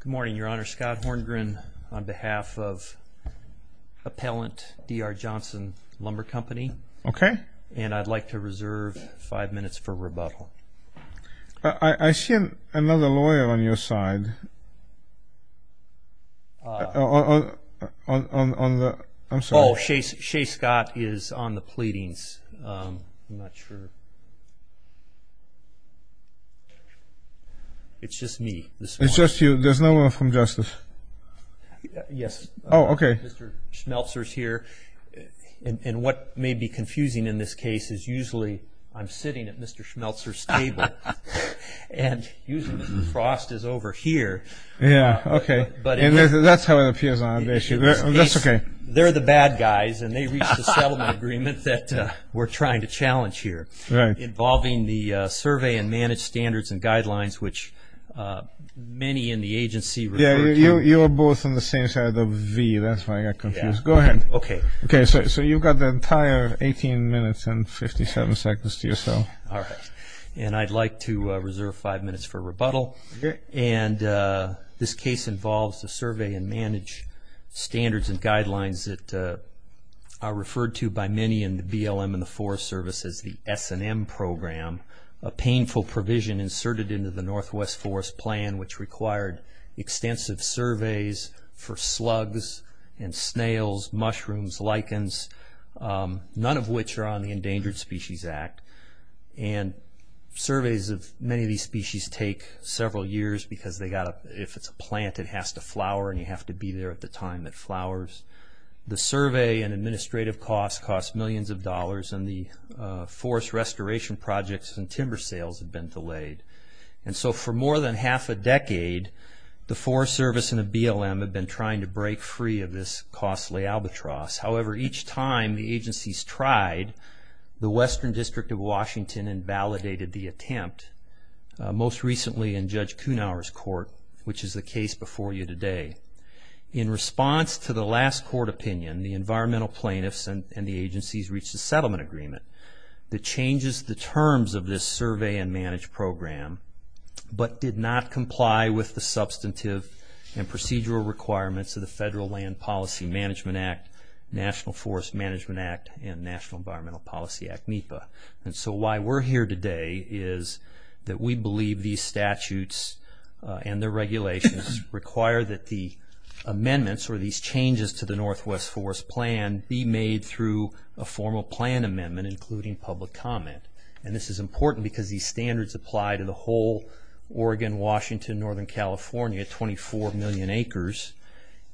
Good morning, Your Honor. Scott Horngren on behalf of appellant D.R. Johnson Lumber Company. Okay. And I'd like to reserve five minutes for rebuttal. I see another lawyer on your side. Oh, Shea Scott is on the pleadings. I'm not sure. It's just me. It's just you. There's no one from Justice. Yes. Oh, okay. Mr. Schmelzer is here. And what may be confusing in this case is usually I'm sitting at Mr. Schmelzer's table. And usually Mr. Frost is over here. Yeah, okay. But that's how it appears on a case. That's okay. They're the bad guys and they reached a settlement agreement that we're trying to challenge here. Right. Involving the survey and manage standards and guidelines which many in the agency. Yeah, you're both on the same side of v. That's why I got confused. Go ahead. Okay. Okay. So you've got the entire 18 minutes and 57 seconds to yourself. All right. And I'd like to reserve five minutes for rebuttal. Okay. And this case involves the survey and manage standards and guidelines that are referred to by many in the BLM and the Forest Service as the S&M program, a painful provision inserted into the Northwest Forest Plan which required extensive surveys for slugs and snails, mushrooms, lichens, none of which are on the Endangered Species Act. And surveys of many of these species take several years because if it's a plant it has to flower and you have to be there at the time it flowers. The survey and administrative costs cost millions of dollars and the forest restoration projects and timber sales have been delayed. And so for more than half a decade the Forest Service and the BLM have been trying to break free of this costly albatross. However, each time the agencies tried, the Western District of Washington invalidated the attempt, most recently in Judge Kuhnauer's court, which is the case before you today. In response to the last court opinion, the environmental plaintiffs and the agencies reached a settlement agreement that changes the terms of this survey and manage program but did not comply with the substantive and procedural requirements of the Federal Land Policy Management Act, National Forest Management Act, and National Environmental Policy Act, NEPA. And so why we're here today is that we believe these statutes and their regulations require that the amendments or these changes to the Northwest Forest Plan be made through a formal plan amendment including public comment. And this is important because these standards apply to the whole Oregon, Washington, Northern California, 24 million acres.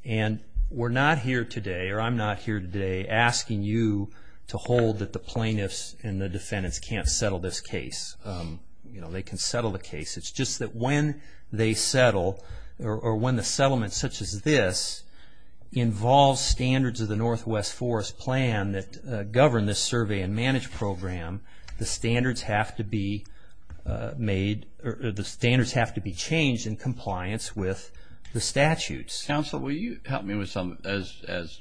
And we're not here today, or I'm not here today, asking you to hold that the plaintiffs and the defendants can't settle this case. They can settle the case. It's just that when they settle or when the settlement such as this involves standards of the Northwest Forest Plan that govern this survey and manage program, the standards have to be made, or the standards have to be changed in compliance with the statutes. Counsel, will you help me with some, as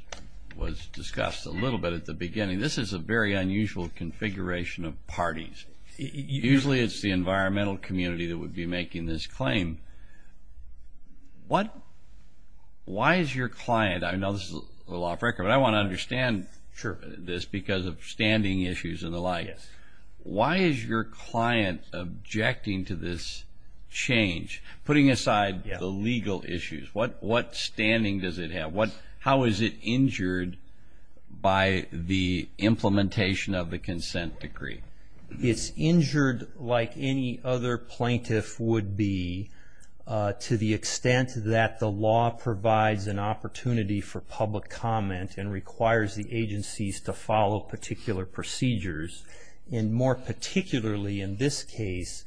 was discussed a little bit at the beginning, this is a very unusual configuration of parties. Usually it's the environmental community that would be making this claim. Why is your client, I know this is a little off record, but I want to understand this because of standing issues and the like. Why is your client objecting to this change? Putting aside the legal issues, what standing does it have? How is it injured by the implementation of the consent decree? It's injured like any other plaintiff would be to the extent that the law provides an opportunity for public comment and requires the agencies to follow particular procedures. And more particularly in this case,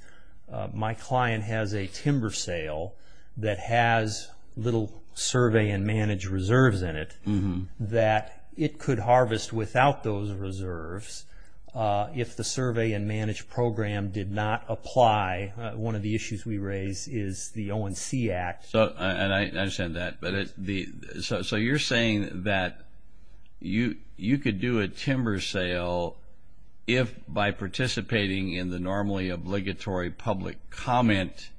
my client has a timber sale that has little survey and manage reserves in it that it could harvest without those reserves if the survey and manage program did not apply. One of the issues we raise is the ONC Act. And I understand that. So you're saying that you could do a timber sale that would not if by participating in the normally obligatory public comment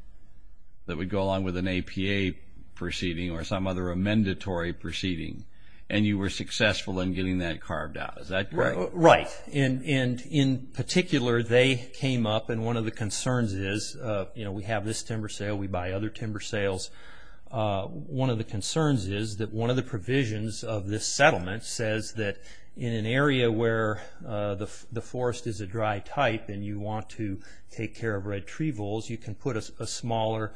that would go along with an APA proceeding or some other amendatory proceeding, and you were successful in getting that carved out. Is that correct? Right. And in particular, they came up and one of the concerns is, you know, we have this timber sale, we buy other timber sales. One of the concerns is that one of the provisions of this settlement says that in an area where the forest is a dry type and you want to take care of red tree voles, you can put a smaller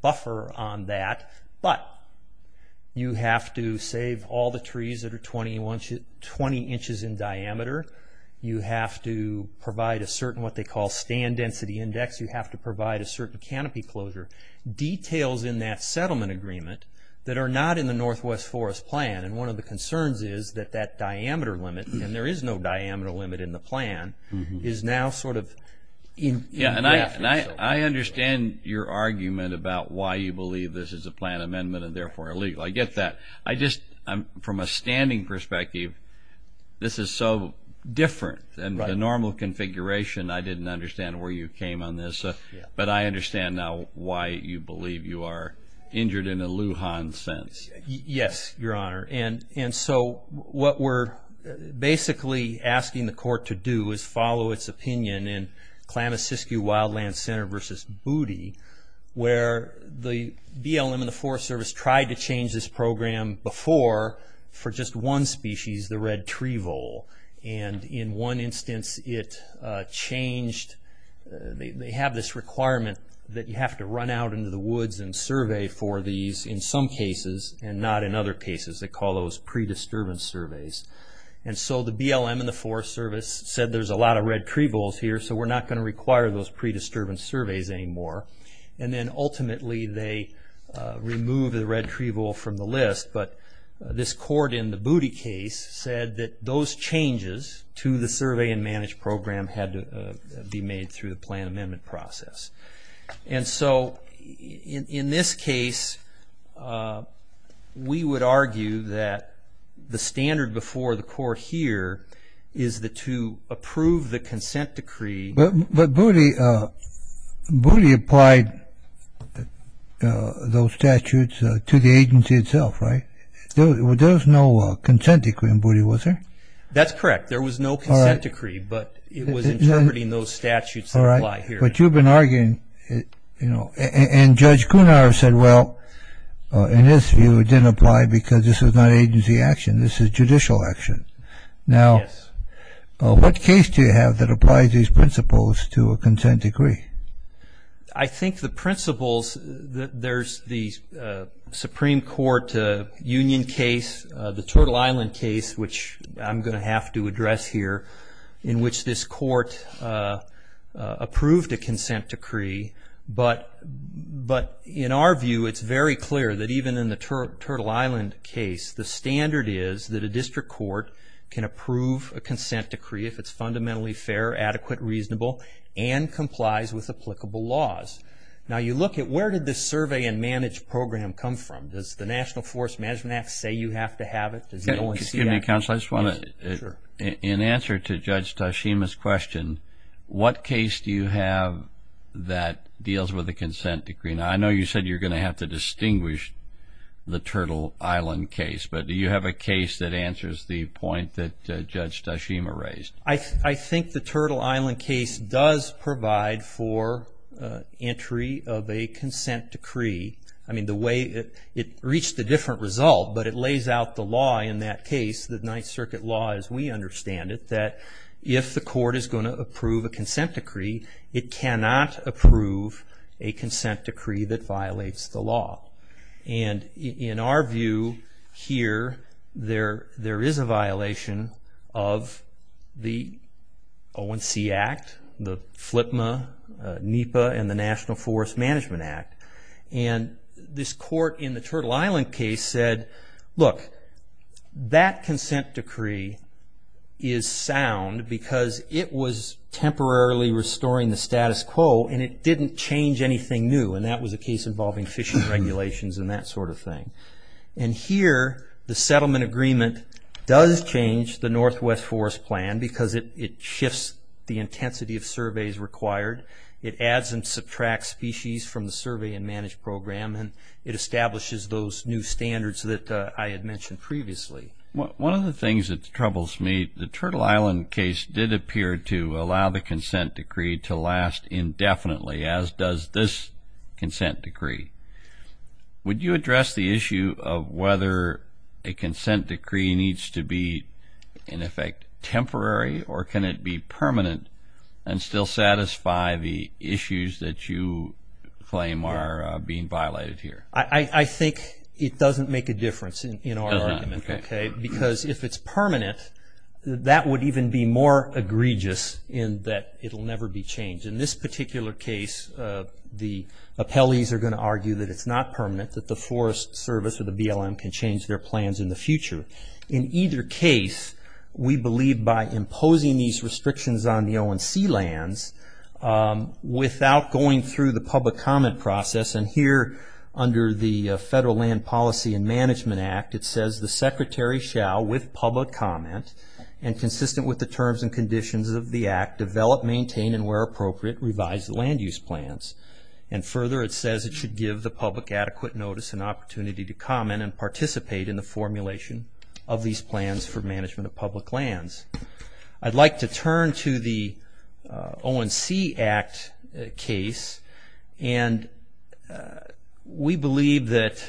buffer on that, but you have to save all the trees that are 20 inches in diameter. You have to provide a certain what they call stand density index. You have to provide a certain canopy closure. Details in that settlement agreement that are not in the Northwest Forest Plan. And one of the concerns is that that diameter limit, and there is no diameter limit in the plan, is now sort of in graphics. I understand your argument about why you believe this is a plan amendment and therefore illegal. I get that. I just, from a standing perspective, this is so different than the normal configuration. I didn't understand where you came on this. But I understand now why you believe you are injured in a Lujan sense. Yes, Your Honor. And so what we're basically asking the court to do is follow its opinion in Klamath-Siskiyou Wildland Center versus Booty, where the BLM and the Forest Service tried to change this program before for just one species, the red tree vole. And in one instance it changed. They have this requirement that you have to run out into the woods and survey for these in some cases and not in other cases. They call those pre-disturbance surveys. And so the BLM and the Forest Service said there's a lot of red tree voles here so we're not going to require those pre-disturbance surveys anymore. And then ultimately they removed the red tree vole from the list. But this court in the Booty case said that those changes to the survey and manage program had to be made through the plan amendment process. And so in this case we would argue that the standard before the court here is that to approve the consent decree... But Booty applied those statutes to the agency itself, right? There was no consent decree in Booty, was there? That's correct. There was no consent decree, but it was interpreting those statutes that apply here. But you've been arguing... And Judge Cunar said, well, in this view it didn't apply because this is not agency action, this is judicial action. Now, what case do you have that applies these principles to a consent decree? I think the principles... There's the Supreme Court union case, the Turtle Island case, which I'm going to have to address here, in which this court approved a consent decree, but in our view it's very clear that even in the Turtle Island case the standard is that a district court can approve a consent decree if it's fundamentally fair, adequate, reasonable, and complies with applicable laws. Now you look at where did this survey and manage program come from? Does the National Forest Management Act say you have to have it? Excuse me, counsel, I just want to... In answer to Judge Tashima's question, what case do you have that deals with a consent decree? Now, I know you said you're going to have to distinguish the Turtle Island case, but do you have a case that answers the point that Judge Tashima raised? I think the Turtle Island case does provide for entry of a consent decree. I mean, the way it reached a different result, but it lays out the law in that case, the Ninth Circuit law as we understand it, that if the court is going to approve a consent decree, it cannot approve a consent decree that violates the law. And in our view here, there is a violation of the ONC Act, the FLPMA, NEPA, and the National Forest Management Act. And this court has in the Turtle Island case said, look, that consent decree is sound because it was temporarily restoring the status quo and it didn't change anything new. And that was a case involving fishing regulations and that sort of thing. And here, the settlement agreement does change the Northwest Forest Plan because it shifts the intensity of surveys required. It adds and subtracts species from the Survey and Manage Program, and it establishes those new standards that I had mentioned previously. One of the things that troubles me, the Turtle Island case did appear to allow the consent decree to last indefinitely, as does this consent decree. Would you address the issue of whether a consent decree needs to be, in effect, temporary, or can it be permanent and still satisfy the issues that you claim are being violated here? I think it doesn't make a difference in our argument, okay, because if it's permanent, that would even be more egregious in that it will never be changed. In this particular case, the appellees are going to argue that it's not permanent, that the Forest Service or the BLM can change their plans in the future. In either case, we believe by imposing these on the ONC lands, without going through the public comment process, and here, under the Federal Land Policy and Management Act, it says, the Secretary shall, with public comment, and consistent with the terms and conditions of the Act, develop, maintain, and where appropriate, revise the land use plans. And further, it says it should give the public adequate notice and opportunity to comment and participate in the formulation of these plans for management of public lands. I'd like to turn to the ONC Act case, and we believe that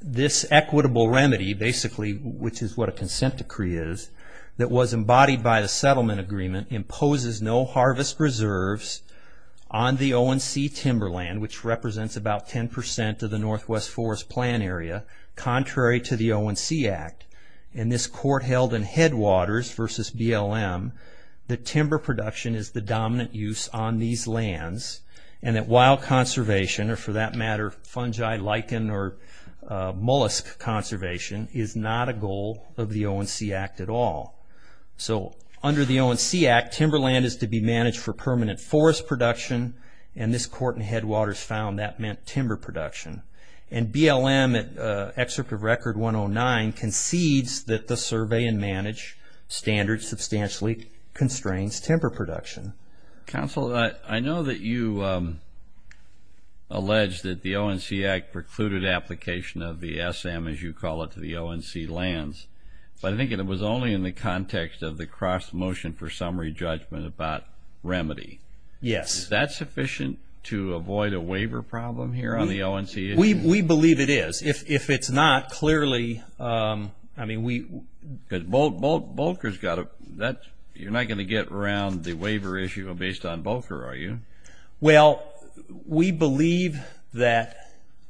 this equitable remedy, basically, which is what a consent decree is, that was embodied by the settlement agreement, imposes no harvest reserves on the ONC timberland, which represents about 10% of the Northwest Headwaters versus BLM, that timber production is the dominant use on these lands, and that wild conservation, or for that matter, fungi, lichen, or mollusk conservation, is not a goal of the ONC Act at all. So, under the ONC Act, timberland is to be managed for permanent forest production, and this court in Headwaters found that meant timber production. And BLM, in Excerpt of Record 109, concedes that the survey and manage standards substantially constrains timber production. Counsel, I know that you alleged that the ONC Act precluded application of the SM, as you call it, to the ONC lands, but I think it was only in the context of the cross-motion for summary judgment about remedy. Yes. Is that sufficient to avoid a waiver problem here on the ONC issue? We believe it is. If it's not, clearly, I mean, we... Because Bulker's got a... You're not going to get around the waiver issue based on Bulker, are you? Well, we believe that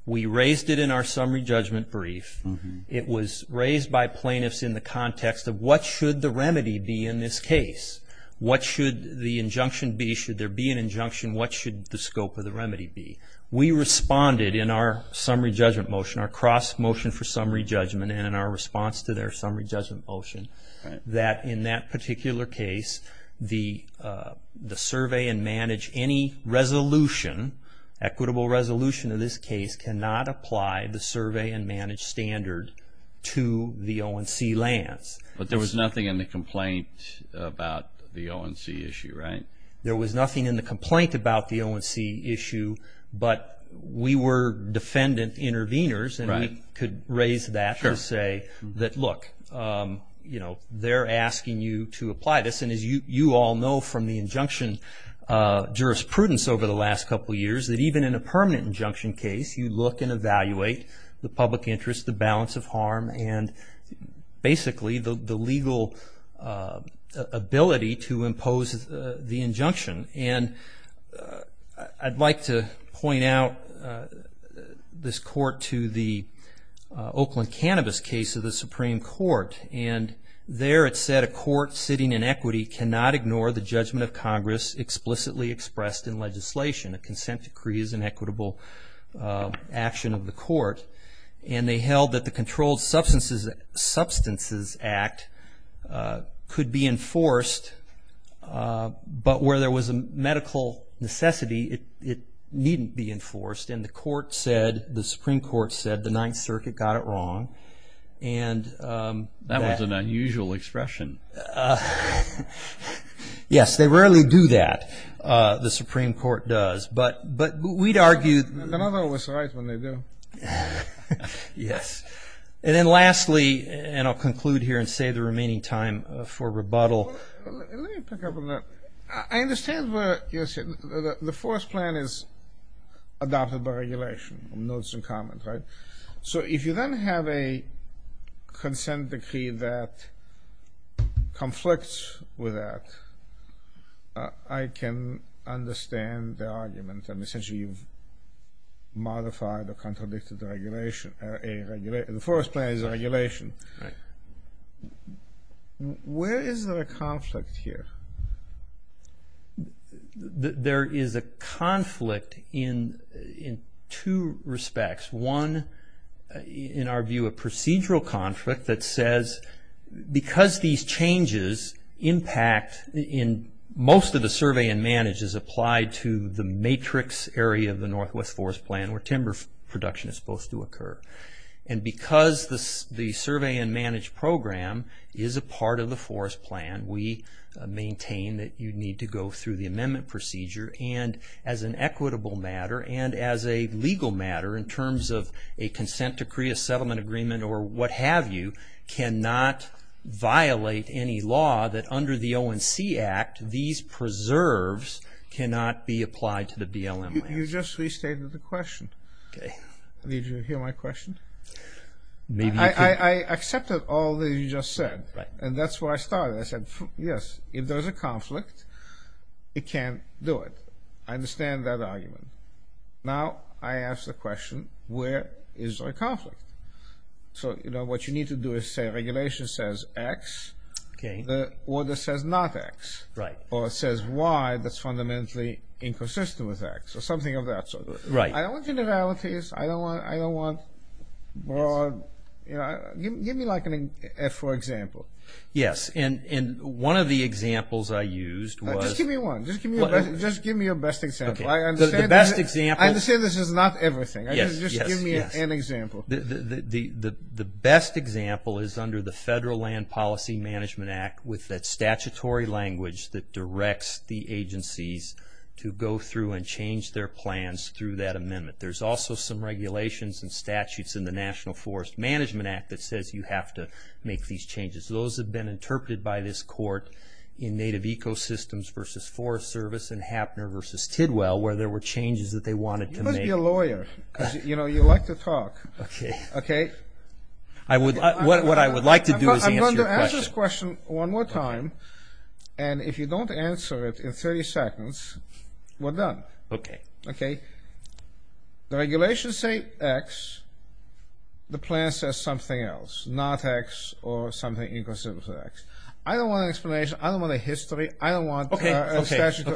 we raised it in our summary judgment brief. It was raised by plaintiffs in the context of what should the remedy be in this case? What should the injunction be? Should there be an injunction? What should the scope of the remedy be? We responded in our summary judgment motion, our cross-motion for summary judgment, and in our response to their summary judgment motion, that in that particular case, the survey and manage any resolution, equitable resolution in this case, cannot apply the survey and manage standard to the ONC lands. But there was nothing in the complaint about the ONC issue, right? There was nothing in the complaint about the ONC issue, but we were defendant intervenors, and we could raise that to say that, look, they're asking you to apply this. And as you all know from the injunction jurisprudence over the last couple of years, that even in a permanent injunction case, you look and evaluate the public interest, the balance of harm, and basically the legal ability to impose the injunction. And I'd like to point out this court to the Oakland Cannabis case of the Supreme Court. And there it said, a court sitting in equity cannot ignore the judgment of Congress explicitly expressed in legislation. A consent decree is an equitable action of the court. And they held that the Controlled Substances Act could be enforced, but where there was a medical necessity, it needn't be enforced. And the court said, the Supreme Court said, the Ninth Circuit got it wrong. And that was an unusual expression. Yes, they rarely do that, the Supreme Court does. But we'd argue... Yes. And then lastly, and I'll conclude here and save the remaining time for rebuttal. Let me pick up on that. I understand where you're sitting. The first plan is adopted by regulation, notes and comments, right? So if you then have a consent decree that modified or contradicted the regulation, the first plan is regulation. Where is there a conflict here? There is a conflict in two respects. One, in our view, a procedural conflict that says, because these changes impact in most of the survey and manage is applied to the matrix area of the Northwest Forest Plan where timber production is supposed to occur. And because the survey and manage program is a part of the forest plan, we maintain that you need to go through the amendment procedure. And as an equitable matter, and as a legal matter in terms of a consent decree, a settlement agreement, or what have you, cannot violate any law that under the ONC Act, these preserves cannot be applied to the BLM land. You just restated the question. Did you hear my question? I accepted all that you just said. And that's where I started. I said, yes, if there's a conflict, it can't do it. I understand that argument. Now I ask the question, where is there a conflict? So, you know, what you need to do is say regulation says X, the order says not X, or it says Y that's fundamentally inconsistent with X, or something of that sort. I don't want generalities. I don't want broad, you know, give me like an F4 example. Yes, and one of the examples I used was... Just give me one. Just give me a best example. I understand this is not everything. Just give me an example. The best example is under the Federal Land Policy Management Act with that statutory language that directs the agencies to go through and change their plans through that amendment. There's also some regulations and statutes in the National Forest Management Act that says you have to make these changes. Those have been interpreted by this court in Native Ecosystems versus Forest Service and Happner versus Tidwell where there were changes that they wanted to make. You need to be a lawyer, because, you know, you like to talk, okay? What I would like to do is answer your question. I'm going to ask this question one more time, and if you don't answer it in 30 seconds, we're done, okay? The regulations say X, the plan says something else, not X, or something inconsistent with X. I don't want an explanation. I don't want a history. I don't want a statute.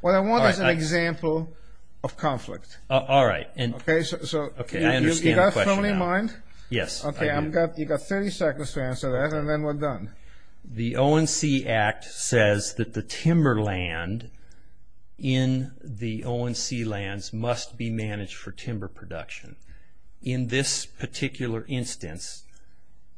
What I want is an example of conflict. All right. Okay, so you've got so many in mind? Yes. Okay, you've got 30 seconds to answer that, and then we're done. The ONC Act says that the timber land in the ONC lands must be managed for timber production. In this particular instance,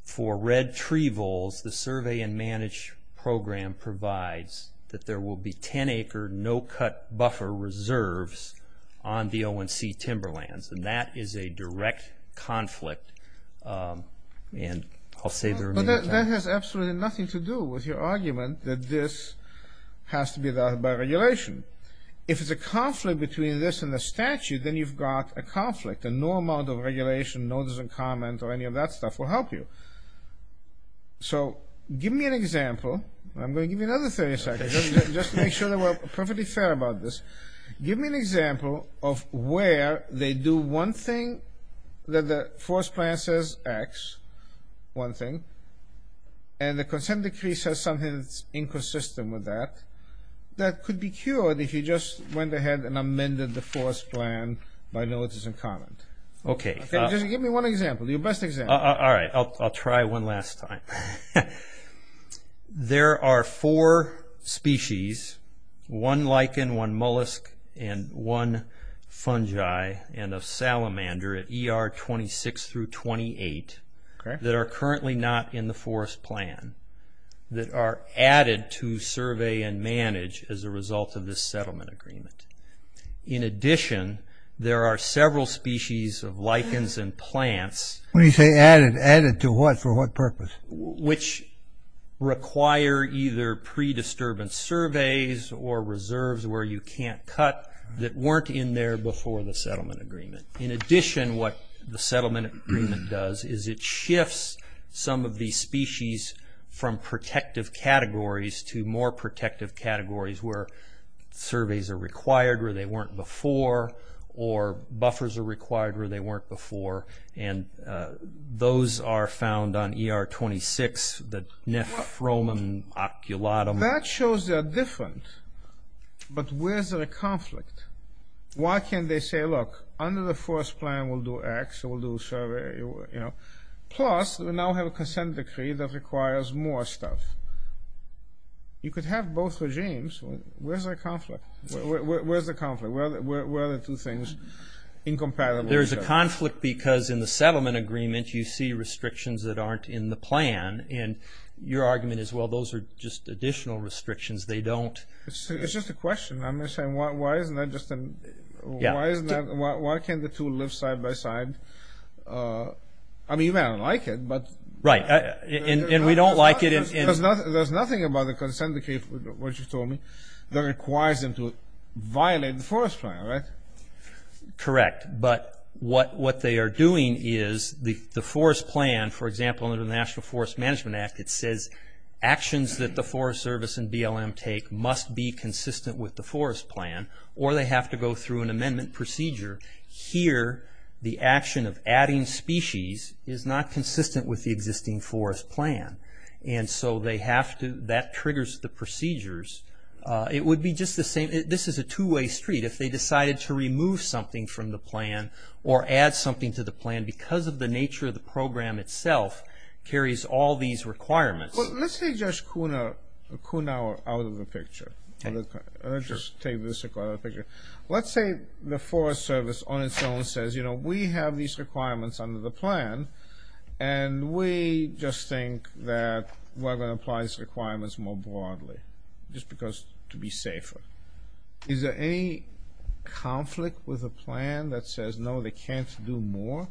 for red tree voles, the Survey and Manage Program provides that there will be 10-acre no-cut buffer reserves on the ONC timber lands, and that is a direct conflict, and I'll save the remaining time. But that has absolutely nothing to do with your argument that this has to be done by regulation. If it's a conflict between this and the statute, then you've got a conflict, and no amount of regulation, notice and comment, or any of that stuff will help you. So, give me an example. I'm going to give you another 30 seconds, just to make sure that we're perfectly fair about this. Give me an example of where they do one thing that the force plan says X, one thing, and the consent decree says something that's inconsistent with that, that could be cured if you just went ahead and amended the force plan by notice and comment. Okay. Just give me one example, your best example. All right, I'll try one last time. There are four species, one lichen, one mollusk, and one fungi, and a salamander at ER 26 through 28, that are currently not in the force plan that are added to Survey and Manage as a result of this settlement agreement. In addition, there are several species of lichens and plants... When you say added, added to what, for what purpose? Which require either pre-disturbance surveys or reserves where you can't cut that weren't in there before the settlement agreement. In addition, what the settlement agreement does is it shifts some of these species from protective categories to more protective categories where surveys are required where they weren't before, or buffers are required where they weren't. Those are found on ER 26, the Nephromum oculatum. That shows they're different, but where's the conflict? Why can't they say, look, under the force plan we'll do X, we'll do survey, plus we now have a consent decree that requires more stuff. You could have both regimes. Where's the conflict? Where are the two things incompatible? There's a conflict because in the settlement agreement you see restrictions that aren't in the plan, and your argument is, well, those are just additional restrictions. They don't... It's just a question. I'm just saying, why can't the two live side by side? I mean, you may not like it, but... Right. And we don't like it in... There's nothing about the consent decree, what you told me, that requires them to violate the force plan, right? Correct. But what they are doing is, the force plan, for example, under the National Forest Management Act, it says actions that the Forest Service and BLM take must be consistent with the force plan, or they have to go through an amendment procedure. Here, the action of adding species is not consistent with the existing force plan, and so they have to... That triggers the procedures. It would be just the same... This is a two-way street. If they decided to remove something from the plan, or add something to the plan, because of the nature of the program itself, carries all these requirements. Let's take Judge Kuhnhauer out of the picture. Let's just take this out of the picture. Let's say the Forest Service on its own says, you know, we have these requirements under the plan, and we just think that we're going to apply these requirements more broadly, just because, to be safer. Is there any conflict with the plan that says, no, they can't do more?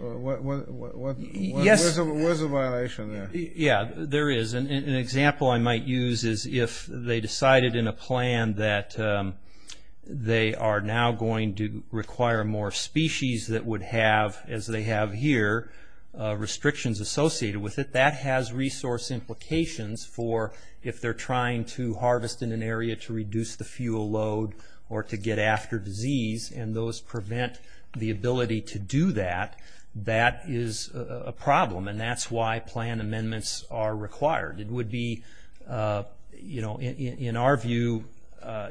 What's the violation there? Yeah, there is. An example I might use is, if they decided in a plan that they are now going to require more species that would have, as they have here, restrictions associated with it, that has resource implications for, if they're trying to harvest in an area to reduce the fuel load, or to get after disease, and those prevent the ability to do that, that is a problem, and that's why plan amendments are required. It would be, you know, in our view,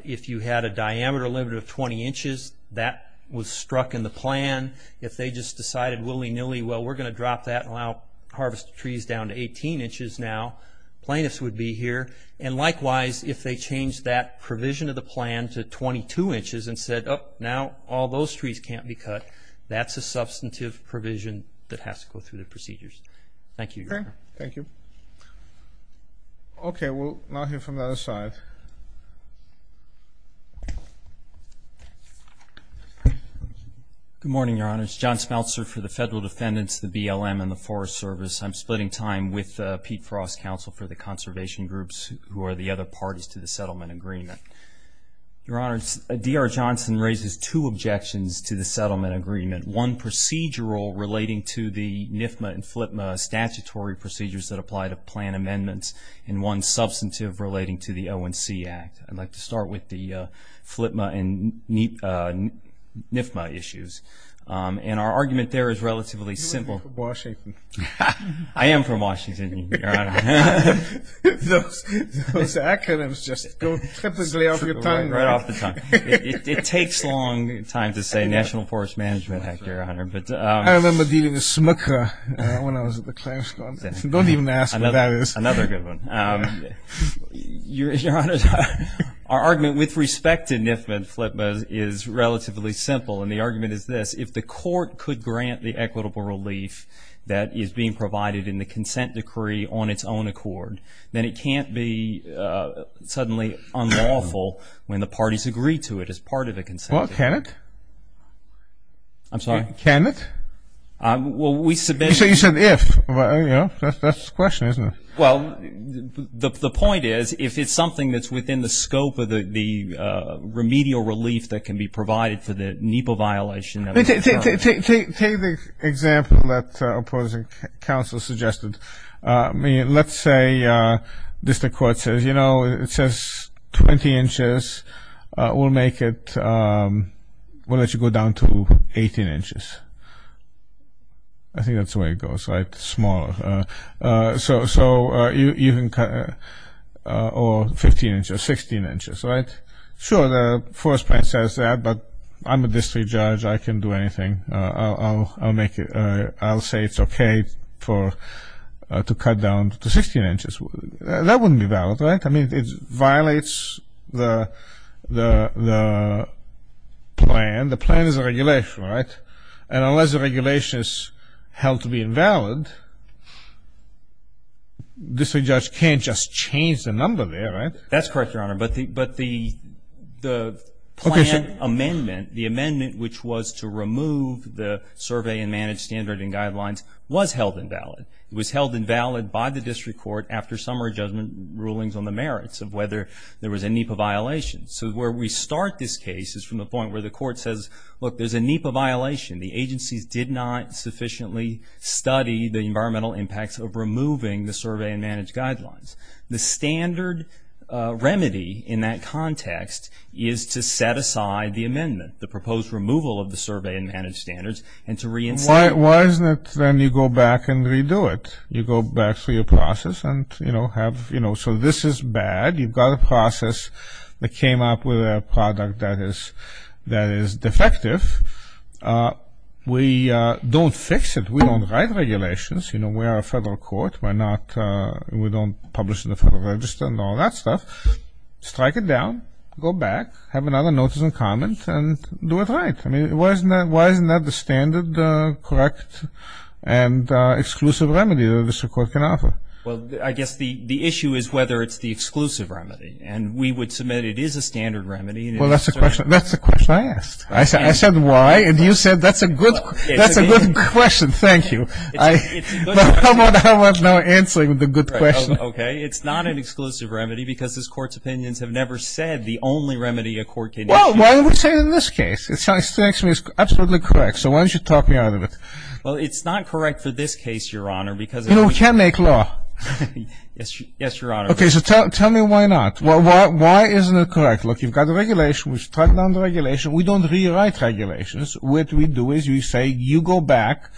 if you had a diameter limit of 20 inches, that was struck in the plan. If they just decided willy-nilly, well, we're going to drop that and allow harvest trees down to 18 inches now, plaintiffs would be here, and likewise, if they changed that provision of the plan to 22 inches and said, oh, now all those trees can't be cut, that's a substantive provision that has to go through the procedures. Thank you, Your Honor. Okay, thank you. Okay, we'll now hear from the other side. Good morning, Your Honor. It's John Smeltzer for the Federal Defendants, the BLM, and the splitting time with Pete Frost, Counsel for the Conservation Groups, who are the other parties to the settlement agreement. Your Honor, D.R. Johnson raises two objections to the settlement agreement, one procedural relating to the NFMA and FLPMA statutory procedures that apply to plan amendments, and one substantive relating to the ONC Act. I'd like to start with the FLPMA and NFMA issues, and our argument there is relatively simple. You're from Washington. I am from Washington, Your Honor. Those acronyms just go triply off your tongue. Right off the tongue. It takes long time to say National Forest Management Act, Your Honor. I remember dealing with SMCRA when I was at the Clare school. Don't even ask what that is. Another good one. Your Honor, our argument with respect to NFMA and FLPMA is relatively simple, and the argument is this. If the court could grant the equitable relief that is being provided in the consent decree on its own accord, then it can't be suddenly unlawful when the parties agree to it as part of the consent decree. Well, can it? I'm sorry. Can it? Well, we submit. You said if. That's the question, isn't it? Well, the point is, if it's something that's within the scope of the remedial relief that can be provided for the NEPA violation of the terms. Take the example that opposing counsel suggested. I mean, let's say district court says, you know, it says 20 inches. We'll make it, we'll let you go down to 18 inches. I think that's the way it goes, right? Smaller. So you can cut, or 15 inches, 16 inches, right? Sure, the first plan says that, but I'm a district judge. I can do anything. I'll make it, I'll say it's okay to cut down to 16 inches. That wouldn't be valid, right? I mean, it violates the plan. The plan is a regulation, right? And unless the regulation is held to be invalid, district judge can't just change the number there, right? That's correct, Your Honor, but the plan amendment, the amendment which was to remove the survey and manage standard and guidelines was held invalid. It was held invalid by the district court after summary judgment rulings on the merits of whether there was a NEPA violation. So where we start this case is from the point where the court says, look, there's a NEPA violation. The agencies did not sufficiently study the environmental impacts of removing the survey and manage guidelines. The standard remedy in that context is to set aside the amendment, the proposed removal of the survey and manage standards, and to reinstate it. Why isn't it then you go back and redo it? You go back through your process and, you know, have, you know, so this is bad. You've got a process that came up with a product that is defective. We don't fix it. We don't write regulations. You know, we are a federal court. We're not, we don't publish in the Federal Register and all that stuff. Strike it down, go back, have another notice and comment, and do it right. I mean, why isn't that, why isn't that the standard, correct, and exclusive remedy that a district court can offer? Well, I guess the issue is whether it's the exclusive remedy, and we would submit it is a standard remedy. Well, that's the question, that's the question I asked. I said why, and you said that's a good, that's a good question. Thank you. I, how about now answering the good question? Okay, it's not an exclusive remedy because this Court's opinions have never said the only remedy a court can issue. Well, why would we say it in this case? It's absolutely correct, so why don't you talk me out of it? Well, it's not correct for this case, Your Honor, because it's... You know, we can't make law. Yes, Your Honor. Okay, so tell me why not. Why isn't it correct? Look, you've got the regulation. We've struck down the regulation. We don't rewrite regulations. What we do is we say you go back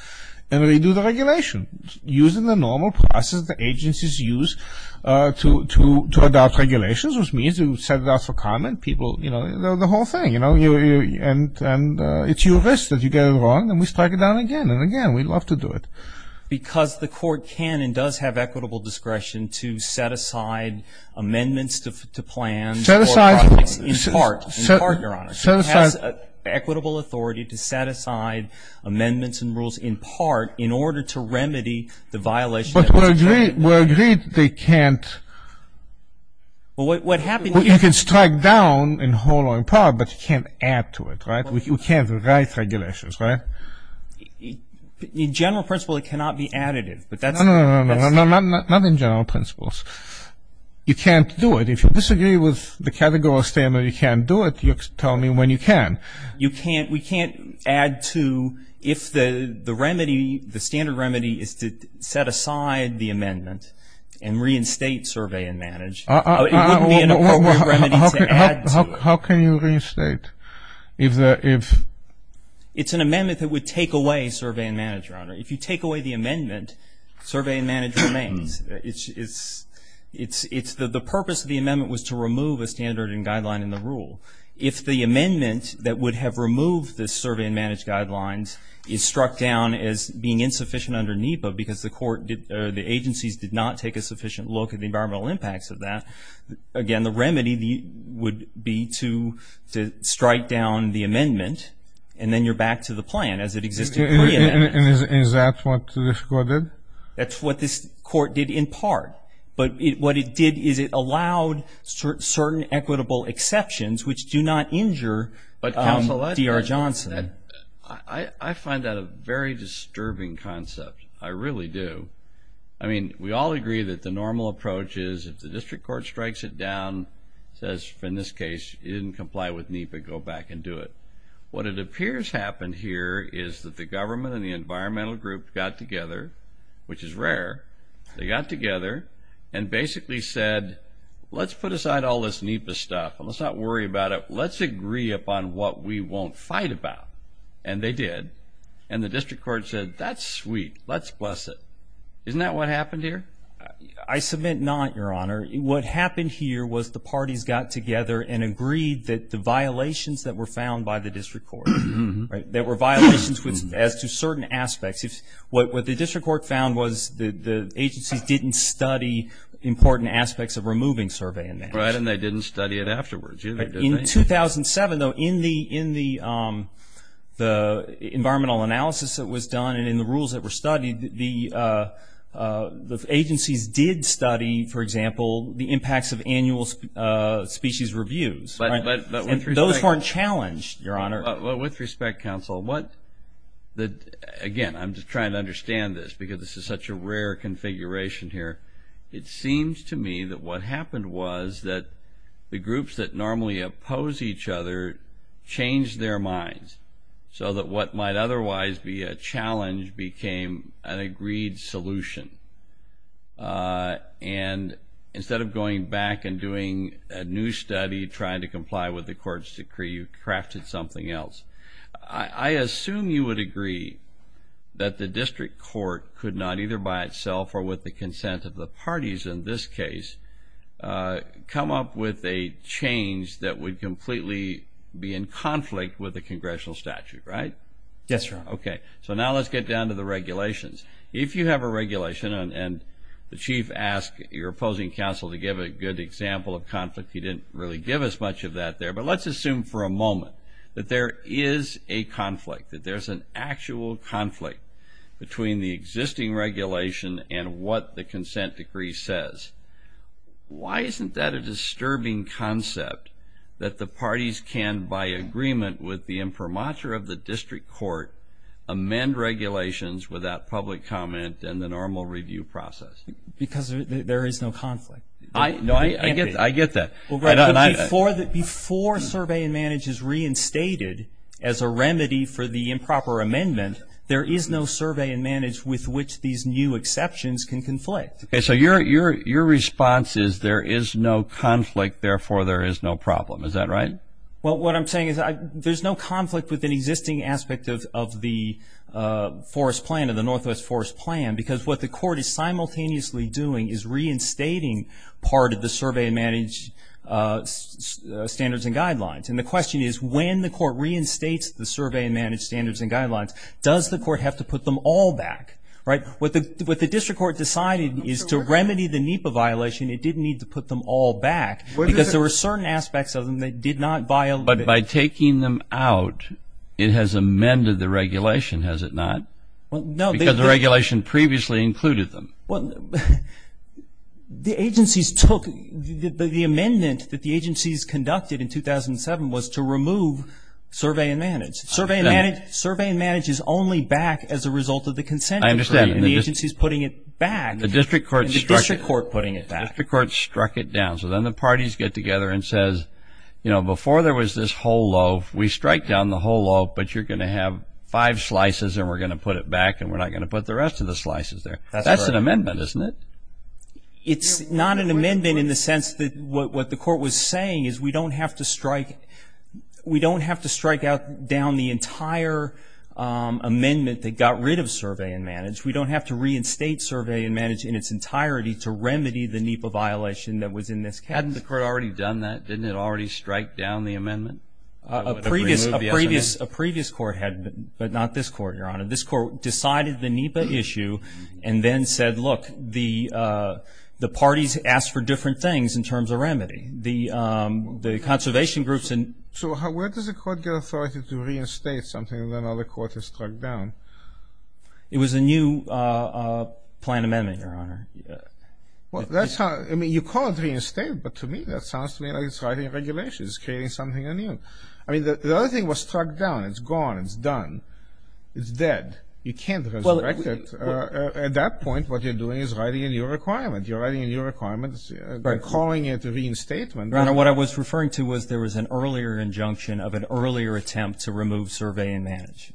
and redo the regulation, using the normal process the agencies use to adopt regulations, which means you set it up for comment, people, you know, the whole thing, you know, and it's your risk that you get it wrong, and we strike it down again and again. We'd love to do it. Because the Court can and does have equitable discretion to set aside amendments to plans or... Set aside... In part, in part, Your Honor. Set aside... In order to remedy the violation... But we're agreed, we're agreed they can't... Well, what happens... You can strike down in whole or in part, but you can't add to it, right? We can't rewrite regulations, right? In general principle, it cannot be additive, but that's... No, no, no, no, no, no, not in general principles. You can't do it. If you disagree with the categorical standard you can't do it, you tell me when you can. You can't, we can't add to if the remedy, the standard remedy is to set aside the amendment and reinstate survey and manage. It wouldn't be an appropriate remedy to add to. How can you reinstate if... It's an amendment that would take away survey and manage, Your Honor. If you take away the amendment, survey and manage remains. It's the purpose of the amendment was to remove a standard and guideline in the rule. If the amendment that would have removed the survey and manage guidelines is struck down as being insufficient under NEPA because the agencies did not take a sufficient look at the environmental impacts of that, again, the remedy would be to strike down the amendment and then you're back to the plan as it existed previously. And is that what this court did? That's what this court did in part. But what it did is it allowed certain equitable exceptions which do not injure D.R. Johnson. I find that a very disturbing concept. I really do. I mean, we all agree that the normal approach is if the district court strikes it down, says in this case it didn't comply with NEPA, go back and do it. What it appears happened here is that the government and the environmental group got together, which is rare, they got together and basically said, let's put aside all this NEPA stuff and let's not worry about it. Let's agree upon what we won't fight about. And they did. And the district court said, that's sweet. Let's bless it. Isn't that what happened here? I submit not, Your Honor. What happened here was the parties got together and agreed that the violations that were found by the district court, that were violations as to certain aspects. What the district court found was that the agencies didn't study important aspects of removing surveying maps. Right, and they didn't study it afterwards either, did they? In 2007, though, in the environmental analysis that was done and in the rules that were studied, the agencies did study, for example, the impacts of annual species reviews. But with respect... And those weren't challenged, Your Honor. With respect, counsel, again, I'm just trying to understand this because this is such a rare configuration here. It seems to me that what happened was that the groups that normally oppose each other changed their minds so that what might otherwise be a challenge became an agreed solution. And instead of going back and doing a new study, trying to comply with the court's decree, you crafted something else. I assume you would agree that the district court could not, either by itself or with the consent of the parties in this case, come up with a change that would completely be in conflict with the congressional statute, right? Yes, Your Honor. Okay. So now let's get down to the regulations. If you have a regulation and the chief asks your opposing counsel to give a good example of conflict, he didn't really give us much of that there, but let's assume for a moment that there is a conflict, that there's an actual conflict between the existing regulation and what the consent decree says. Why isn't that a disturbing concept that the parties can, by agreement with the imprimatur of the district court, amend regulations without public comment and the normal review process? Because there is no conflict. No, I get that. Before Survey and Manage is reinstated as a remedy for the improper amendment, there is no Survey and Manage with which these new exceptions can conflict. Okay. So your response is there is no conflict, therefore there is no problem. Is that right? Well, what I'm saying is there's no conflict with an existing aspect of the forest plan, of the Northwest Forest Plan, because what the court is simultaneously doing is reinstating part of the Survey and Manage Standards and Guidelines. And the question is, when the court reinstates the Survey and Manage Standards and Guidelines, does the court have to put them all back, right? What the district court decided is to remedy the NEPA violation, it didn't need to put them all back because there were certain aspects of them that did not violate it. But by taking them out, it has amended the regulation, has it not? Well, no. Because the regulation previously included them. Well, the agencies took the amendment that the agencies conducted in 2007 was to remove Survey and Manage. Survey and Manage is only back as a result of the consent decree. I understand. And the agency is putting it back. The district court struck it. The district court putting it back. The district court struck it down. So then the parties get together and says, you know, before there was this whole loaf, we strike down the whole loaf, but you're going to have five slices and we're going to put it back and we're not going to put the rest of the slices there. That's an amendment, isn't it? It's not an amendment in the sense that what the court was saying is we don't have to strike out down the entire amendment that got rid of Survey and Manage. We don't have to reinstate Survey and Manage in its entirety to remedy the NEPA violation that was in this case. Hadn't the court already done that? Didn't it already strike down the amendment? A previous court had, but not this court, Your Honor. This court decided the NEPA issue and then said, look, the parties asked for different things in terms of remedy. The conservation groups and – So where does the court get authority to reinstate something that another court has struck down? It was a new plan amendment, Your Honor. Well, that's how – I mean, you call it reinstate, but to me that sounds to me like it's writing regulations, creating something anew. I mean, the other thing was struck down. It's gone. It's done. It's dead. You can't resurrect it. At that point, what you're doing is writing a new requirement. You're writing a new requirement. They're calling it a reinstatement. Your Honor, what I was referring to was there was an earlier injunction of an earlier attempt to remove Survey and Manage.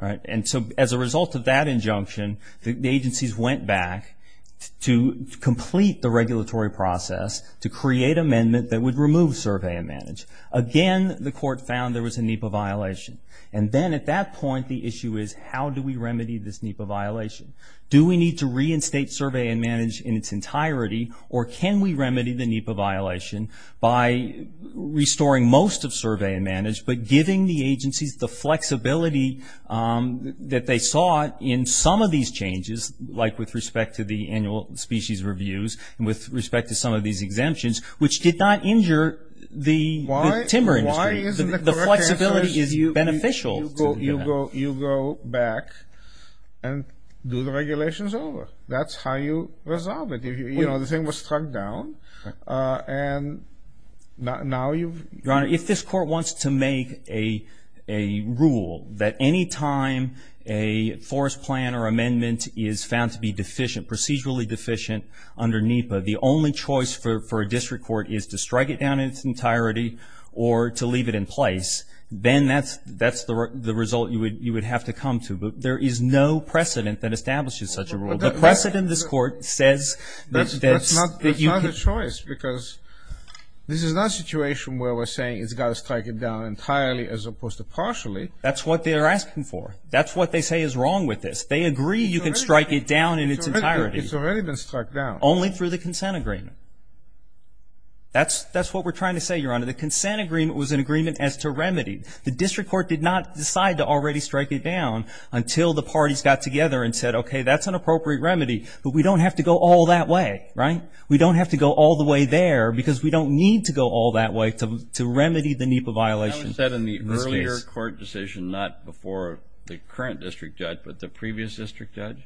And so as a result of that injunction, the agencies went back to complete the regulatory process to create amendment that would remove Survey and Manage. Again, the court found there was a NEPA violation. And then at that point, the issue is how do we remedy this NEPA violation? Do we need to reinstate Survey and Manage in its entirety, or can we remedy the NEPA violation by restoring most of Survey and Manage but giving the agencies the flexibility that they saw in some of these changes, like with respect to the annual species reviews and with respect to some of these exemptions, which did not injure the timber industry. The flexibility is beneficial to the NEPA. You go back and do the regulations over. That's how you resolve it. You know, the thing was struck down. Your Honor, if this court wants to make a rule that any time a forest plan or amendment is found to be deficient, procedurally deficient, under NEPA, the only choice for a district court is to strike it down in its entirety or to leave it in place, then that's the result you would have to come to. But there is no precedent that establishes such a rule. The precedent in this court says that's not the choice because this is not a situation where we're saying it's got to strike it down entirely as opposed to partially. That's what they're asking for. That's what they say is wrong with this. They agree you can strike it down in its entirety. It's already been struck down. Only through the consent agreement. That's what we're trying to say, Your Honor. The consent agreement was an agreement as to remedy. The district court did not decide to already strike it down until the parties got together and said, okay, that's an appropriate remedy. But we don't have to go all that way, right? We don't have to go all the way there because we don't need to go all that way to remedy the NEPA violation. That was said in the earlier court decision, not before the current district judge, but the previous district judge?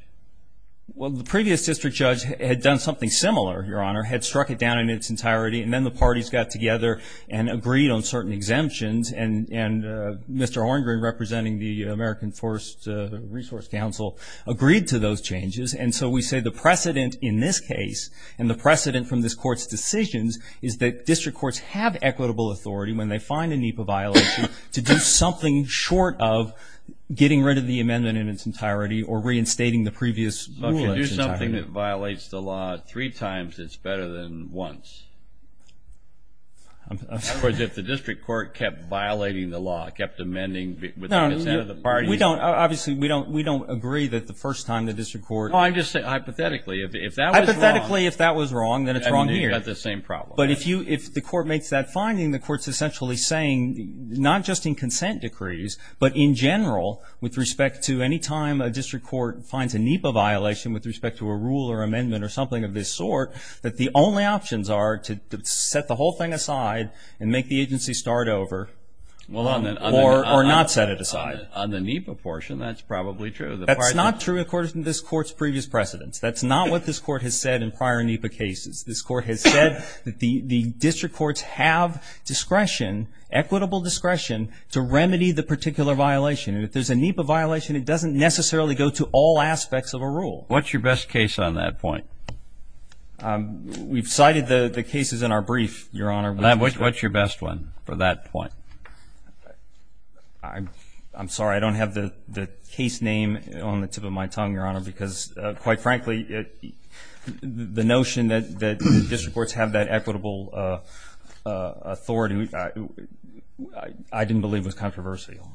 Well, the previous district judge had done something similar, Your Honor, had struck it down in its entirety, and then the parties got together and agreed on certain exemptions. And Mr. Orndrej, representing the American Forest Resource Council, agreed to those changes. And so we say the precedent in this case and the precedent from this court's decisions is that district courts have equitable authority when they find a NEPA violation to do something short of getting rid of the amendment in its entirety or reinstating the previous rule in its entirety. If something violates the law three times, it's better than once. In other words, if the district court kept violating the law, kept amending with the consent of the parties. Obviously, we don't agree that the first time the district court. No, I'm just saying, hypothetically, if that was wrong. Hypothetically, if that was wrong, then it's wrong here. I mean, you've got the same problem. But if the court makes that finding, the court's essentially saying, not just in consent decrees, but in general, with respect to any time a district court finds a NEPA violation with respect to a rule or amendment or something of this sort, that the only options are to set the whole thing aside and make the agency start over or not set it aside. On the NEPA portion, that's probably true. That's not true according to this court's previous precedents. That's not what this court has said in prior NEPA cases. This court has said that the district courts have discretion, equitable discretion to remedy the particular violation. And if there's a NEPA violation, it doesn't necessarily go to all aspects of a rule. What's your best case on that point? We've cited the cases in our brief, Your Honor. What's your best one for that point? I'm sorry. I don't have the case name on the tip of my tongue, Your Honor, because, quite frankly, the notion that district courts have that equitable authority, I didn't believe was controversial.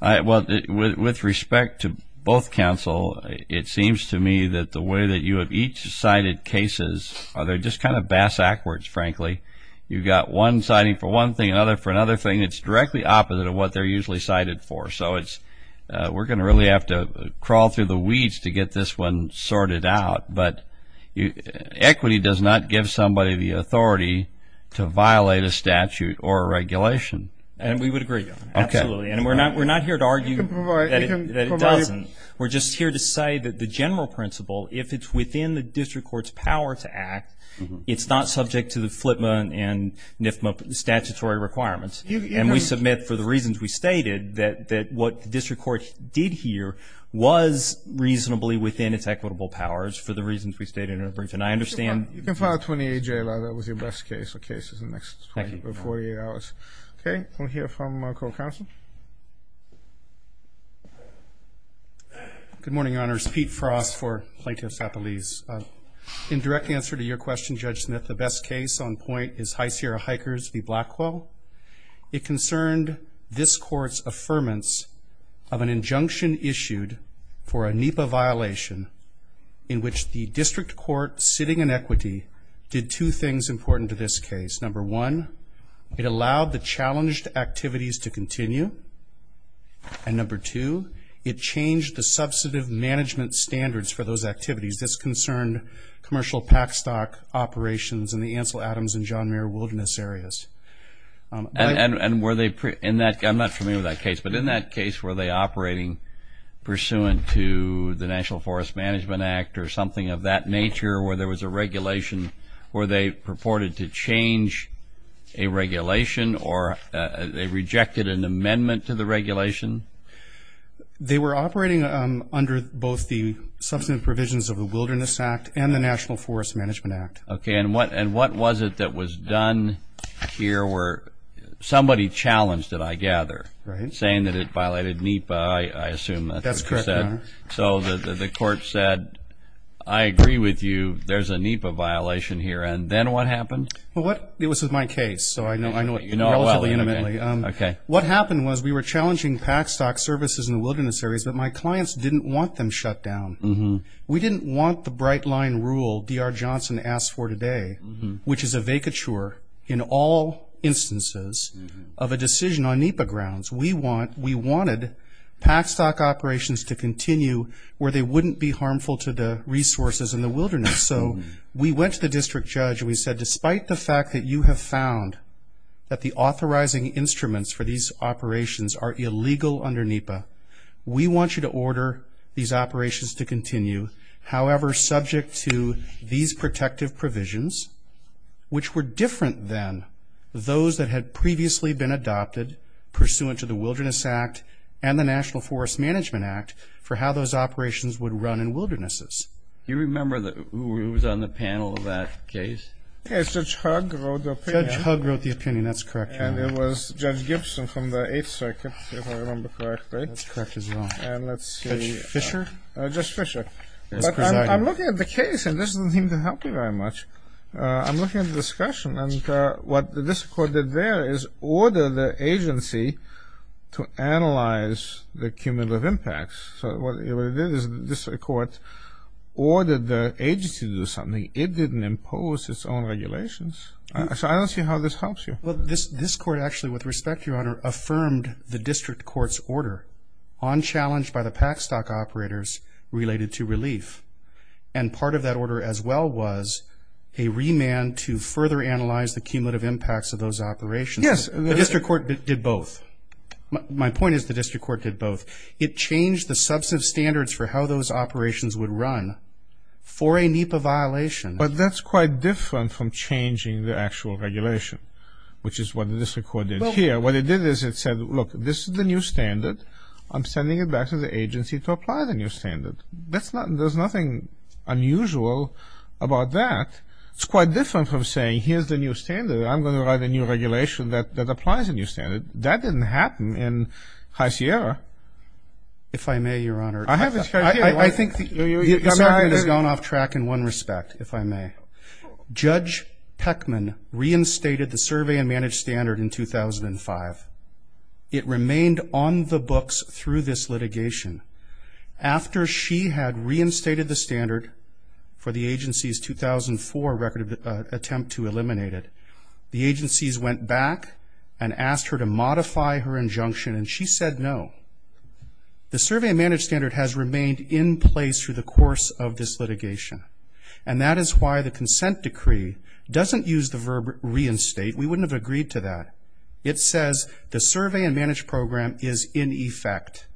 With respect to both counsel, it seems to me that the way that you have each cited cases, they're just kind of bass-ackwards, frankly. You've got one citing for one thing, another for another thing. It's directly opposite of what they're usually cited for. So we're going to really have to crawl through the weeds to get this one sorted out. But equity does not give somebody the authority to violate a statute or a regulation. And we would agree, Your Honor. Absolutely. And we're not here to argue that it doesn't. We're just here to say that the general principle, if it's within the district court's power to act, it's not subject to the FLTMA and NFMA statutory requirements. And we submit, for the reasons we stated, that what the district court did here was reasonably within its equitable powers, for the reasons we stated in our brief. You can file a 28-J letter with your best case or cases in the next 24 to 48 hours. Okay. We'll hear from our co-counsel. Good morning, Your Honors. Pete Frost for Plaintiff's Appellees. In direct answer to your question, Judge Smith, the best case on point is High Sierra Hikers v. Blackwell. It concerned this court's affirmance of an injunction issued for a NEPA violation in which the district court sitting in equity did two things important to this case. Number one, it allowed the challenged activities to continue. And number two, it changed the substantive management standards for those activities. This concerned commercial pack stock operations in the Ansel Adams and John Mayer Wilderness areas. And were they pre- I'm not familiar with that case, but in that case were they operating pursuant to the National Forest Management Act or something of that nature where there was a regulation? Were they purported to change a regulation or they rejected an amendment to the regulation? They were operating under both the substantive provisions of the Wilderness Act and the National Forest Management Act. Okay. And what was it that was done here where somebody challenged it, I gather, saying that it violated NEPA, I assume that's what it said. That's correct. So the court said, I agree with you. There's a NEPA violation here. And then what happened? Well, it was with my case, so I know it relatively intimately. Okay. What happened was we were challenging pack stock services in the Wilderness areas, but my clients didn't want them shut down. We didn't want the bright line rule D.R. Johnson asked for today, which is a vacature in all instances of a decision on NEPA grounds. We wanted pack stock operations to continue where they wouldn't be harmful to the resources in the wilderness. So we went to the district judge and we said, despite the fact that you have found that the authorizing instruments for these operations are illegal under NEPA, we want you to order these operations to continue. However, subject to these protective provisions, which were different than those that had previously been adopted, pursuant to the Wilderness Act and the National Forest Management Act, for how those operations would run in wildernesses. Do you remember who was on the panel of that case? Yes, Judge Hug wrote the opinion. Judge Hug wrote the opinion. That's correct. And it was Judge Gibson from the Eighth Circuit, if I remember correctly. That's correct as well. And let's see. Judge Fisher? Judge Fisher. Yes, Presiding. I'm looking at the case and this doesn't seem to help me very much. I'm looking at the discussion and what this court did there is order the agency to analyze the cumulative impacts. So what it did is this court ordered the agency to do something. It didn't impose its own regulations. So I don't see how this helps you. Well, this court actually, with respect, Your Honor, affirmed the district court's order on challenge by the pack stock operators related to relief. And part of that order as well was a remand to further analyze the cumulative impacts of those operations. Yes. The district court did both. My point is the district court did both. It changed the substantive standards for how those operations would run for a NEPA violation. But that's quite different from changing the actual regulation, which is what the district court did here. What it did is it said, look, this is the new standard. I'm sending it back to the agency to apply the new standard. There's nothing unusual about that. It's quite different from saying here's the new standard. I'm going to write a new regulation that applies a new standard. That didn't happen in High Sierra. If I may, Your Honor. I have this right here. I think the American has gone off track in one respect, if I may. Judge Peckman reinstated the survey and manage standard in 2005. It remained on the books through this litigation. After she had reinstated the standard for the agency's 2004 record of attempt to eliminate it, the agencies went back and asked her to modify her injunction, and she said no. The survey and manage standard has remained in place through the course of this litigation. And that is why the consent decree doesn't use the verb reinstate. We wouldn't have agreed to that. It says the survey and manage program is in effect.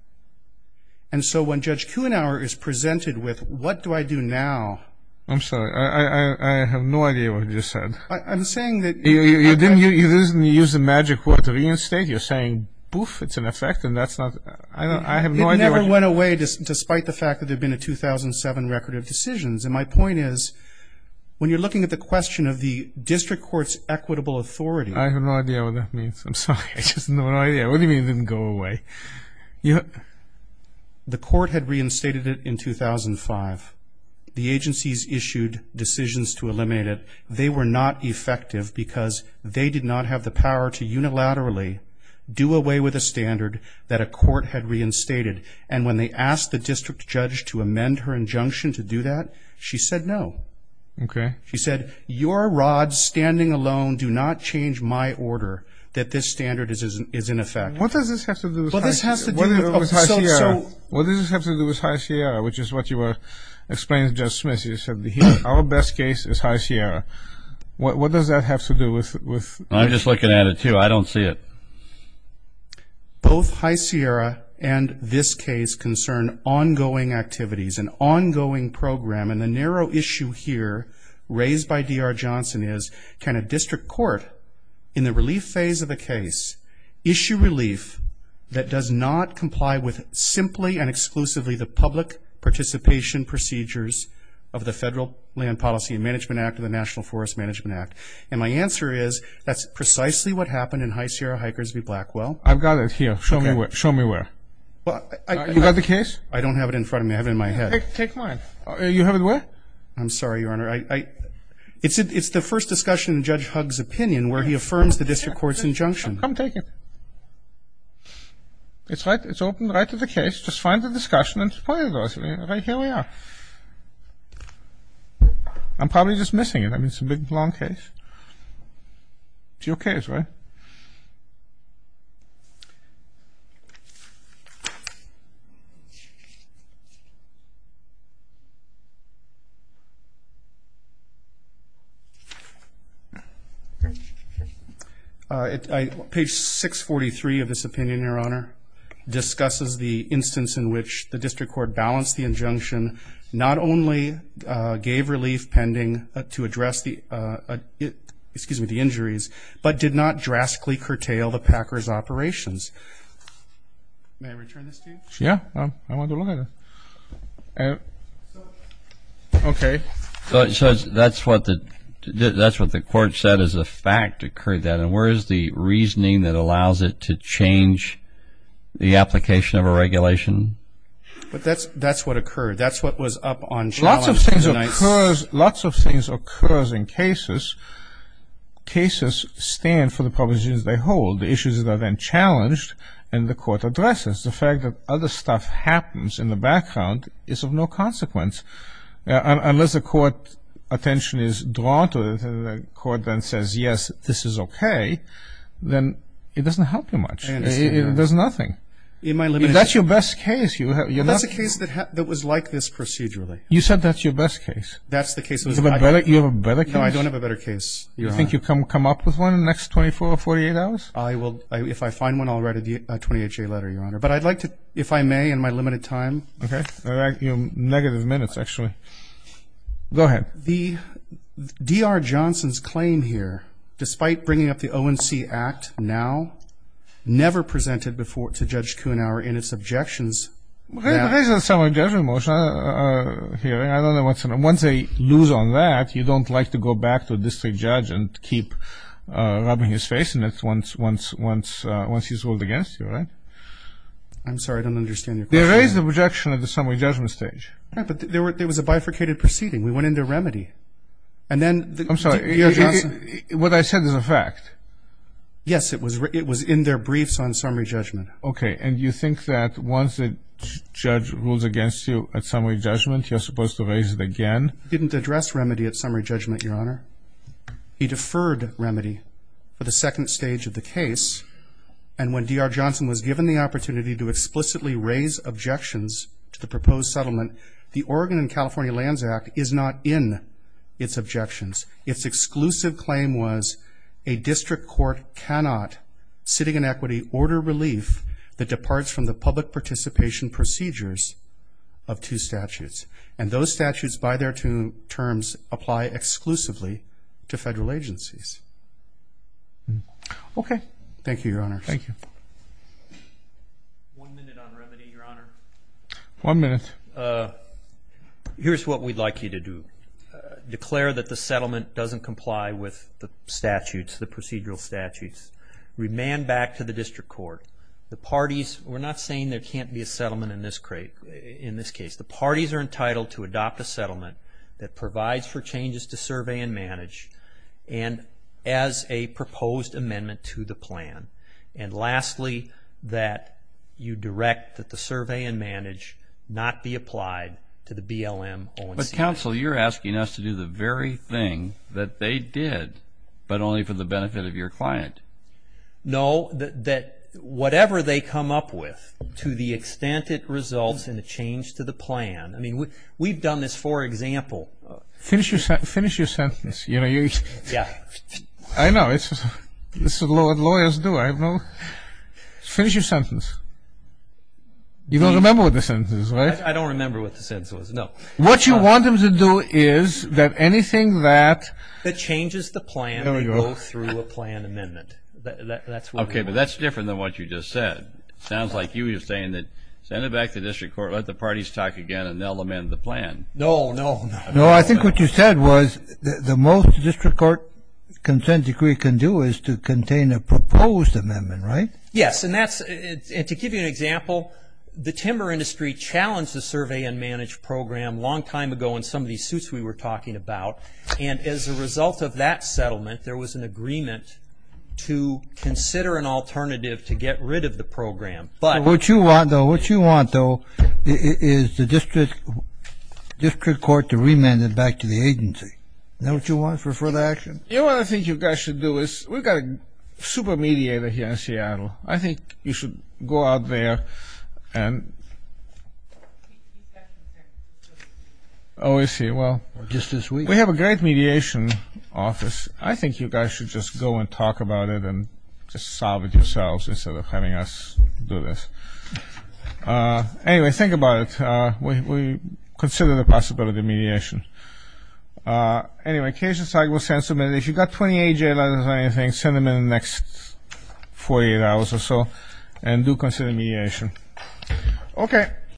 And so when Judge Kuhnhauer is presented with what do I do now? I'm sorry. I have no idea what you just said. I'm saying that you didn't use the magic word to reinstate. You're saying, poof, it's in effect, and that's not. I have no idea. It never went away, despite the fact that there had been a 2007 record of decisions, and my point is when you're looking at the question of the district court's equitable authority. I have no idea what that means. I'm sorry. I just have no idea. What do you mean it didn't go away? The court had reinstated it in 2005. The agencies issued decisions to eliminate it. They were not effective because they did not have the power to unilaterally do away with a standard that a court had reinstated. And when they asked the district judge to amend her injunction to do that, she said no. Okay. She said, your rods standing alone do not change my order that this standard is in effect. What does this have to do with High Sierra? What does this have to do with High Sierra, which is what you were explaining to Judge Smith. You said our best case is High Sierra. What does that have to do with? I'm just looking at it, too. I don't see it. Both High Sierra and this case concern ongoing activities, an ongoing program. And the narrow issue here raised by D.R. Johnson is can a district court in the relief phase of a case issue relief that does not comply with simply and exclusively the public participation procedures of the Federal Land Policy and Management Act and the National Forest Management Act? And my answer is that's precisely what happened in High Sierra-Hikers v. Blackwell. I've got it here. Show me where. You've got the case? I don't have it in front of me. I have it in my head. Take mine. You have it where? I'm sorry, Your Honor. It's the first discussion in Judge Hugg's opinion where he affirms the district court's injunction. Come take it. It's open right to the case. Just find the discussion and point it to us. Right here we are. I'm probably just missing it. I mean, it's a big, long case. It's your case, right? Page 643 of this opinion, Your Honor, discusses the instance in which the district court balanced the injunction not only gave relief pending to address the injuries, but did not drastically curtail the packers' operations. May I return this to you? Yeah. I want to look at it. Okay. So that's what the court said as a fact occurred then, and where is the reasoning that allows it to change the application of a regulation? That's what occurred. That's what was up on challenge tonight. Lots of things occur in cases. Cases stand for the propositions they hold, the issues that are then challenged, and the court addresses. The fact that other stuff happens in the background is of no consequence. Unless the court's attention is drawn to it, and the court then says, yes, this is okay, then it doesn't help you much. There's nothing. That's your best case. That's a case that was like this procedurally. You said that's your best case. That's the case. Do you have a better case? No, I don't have a better case. Do you think you'll come up with one in the next 24 or 48 hours? If I find one, I'll write a 28-J letter, Your Honor. But I'd like to, if I may, in my limited time. Okay. You have negative minutes, actually. Go ahead. D.R. Johnson's claim here, despite bringing up the ONC Act now, never presented to Judge Kuhnhauer in its objections. Raise the summary judgment motion here. I don't know what's in it. Once they lose on that, you don't like to go back to a district judge and keep rubbing his face in it once he's ruled against you, right? I'm sorry. I don't understand your question. They raised the objection at the summary judgment stage. Okay. But there was a bifurcated proceeding. We went into remedy. I'm sorry. D.R. Johnson. What I said is a fact. Yes, it was in their briefs on summary judgment. Okay. And you think that once a judge rules against you at summary judgment, you're supposed to raise it again? He didn't address remedy at summary judgment, Your Honor. He deferred remedy for the second stage of the case. And when D.R. Johnson was given the opportunity to explicitly raise objections to the proposed settlement, the Oregon and California Lands Act is not in its objections. Its exclusive claim was a district court cannot, sitting in equity, order relief that departs from the public participation procedures of two statutes. And those statutes by their terms apply exclusively to federal agencies. Okay. Thank you, Your Honor. Thank you. One minute on remedy, Your Honor. One minute. Here's what we'd like you to do. Declare that the settlement doesn't comply with the statutes, the procedural statutes. Remand back to the district court. The parties, we're not saying there can't be a settlement in this case. The parties are entitled to adopt a settlement that provides for changes to survey and manage and as a proposed amendment to the plan. And lastly, that you direct that the survey and manage not be applied to the BLM O&C. Mr. Counsel, you're asking us to do the very thing that they did, but only for the benefit of your client. No, that whatever they come up with, to the extent it results in a change to the plan. I mean, we've done this for example. Finish your sentence. Yeah. I know. This is what lawyers do. Finish your sentence. You don't remember what the sentence was, right? I don't remember what the sentence was, no. What you want them to do is that anything that. That changes the plan and goes through a plan amendment. Okay, but that's different than what you just said. It sounds like you were saying that send it back to the district court, let the parties talk again, and they'll amend the plan. No, no. No, I think what you said was the most district court consent decree can do is to contain a proposed amendment, right? Yes, and to give you an example, the timber industry challenged the survey and manage program a long time ago in some of these suits we were talking about. And as a result of that settlement, there was an agreement to consider an alternative to get rid of the program. What you want, though, what you want, though, is the district court to remand it back to the agency. Is that what you want for further action? You know what I think you guys should do is we've got a super mediator here in Seattle. I think you should go out there and we have a great mediation office. I think you guys should just go and talk about it and just solve it yourselves instead of having us do this. Anyway, think about it. We consider the possibility of mediation. Anyway, Casey and Steig will send something. If you've got 20 AJ letters or anything, send them in the next 48 hours or so and do consider mediation. Okay.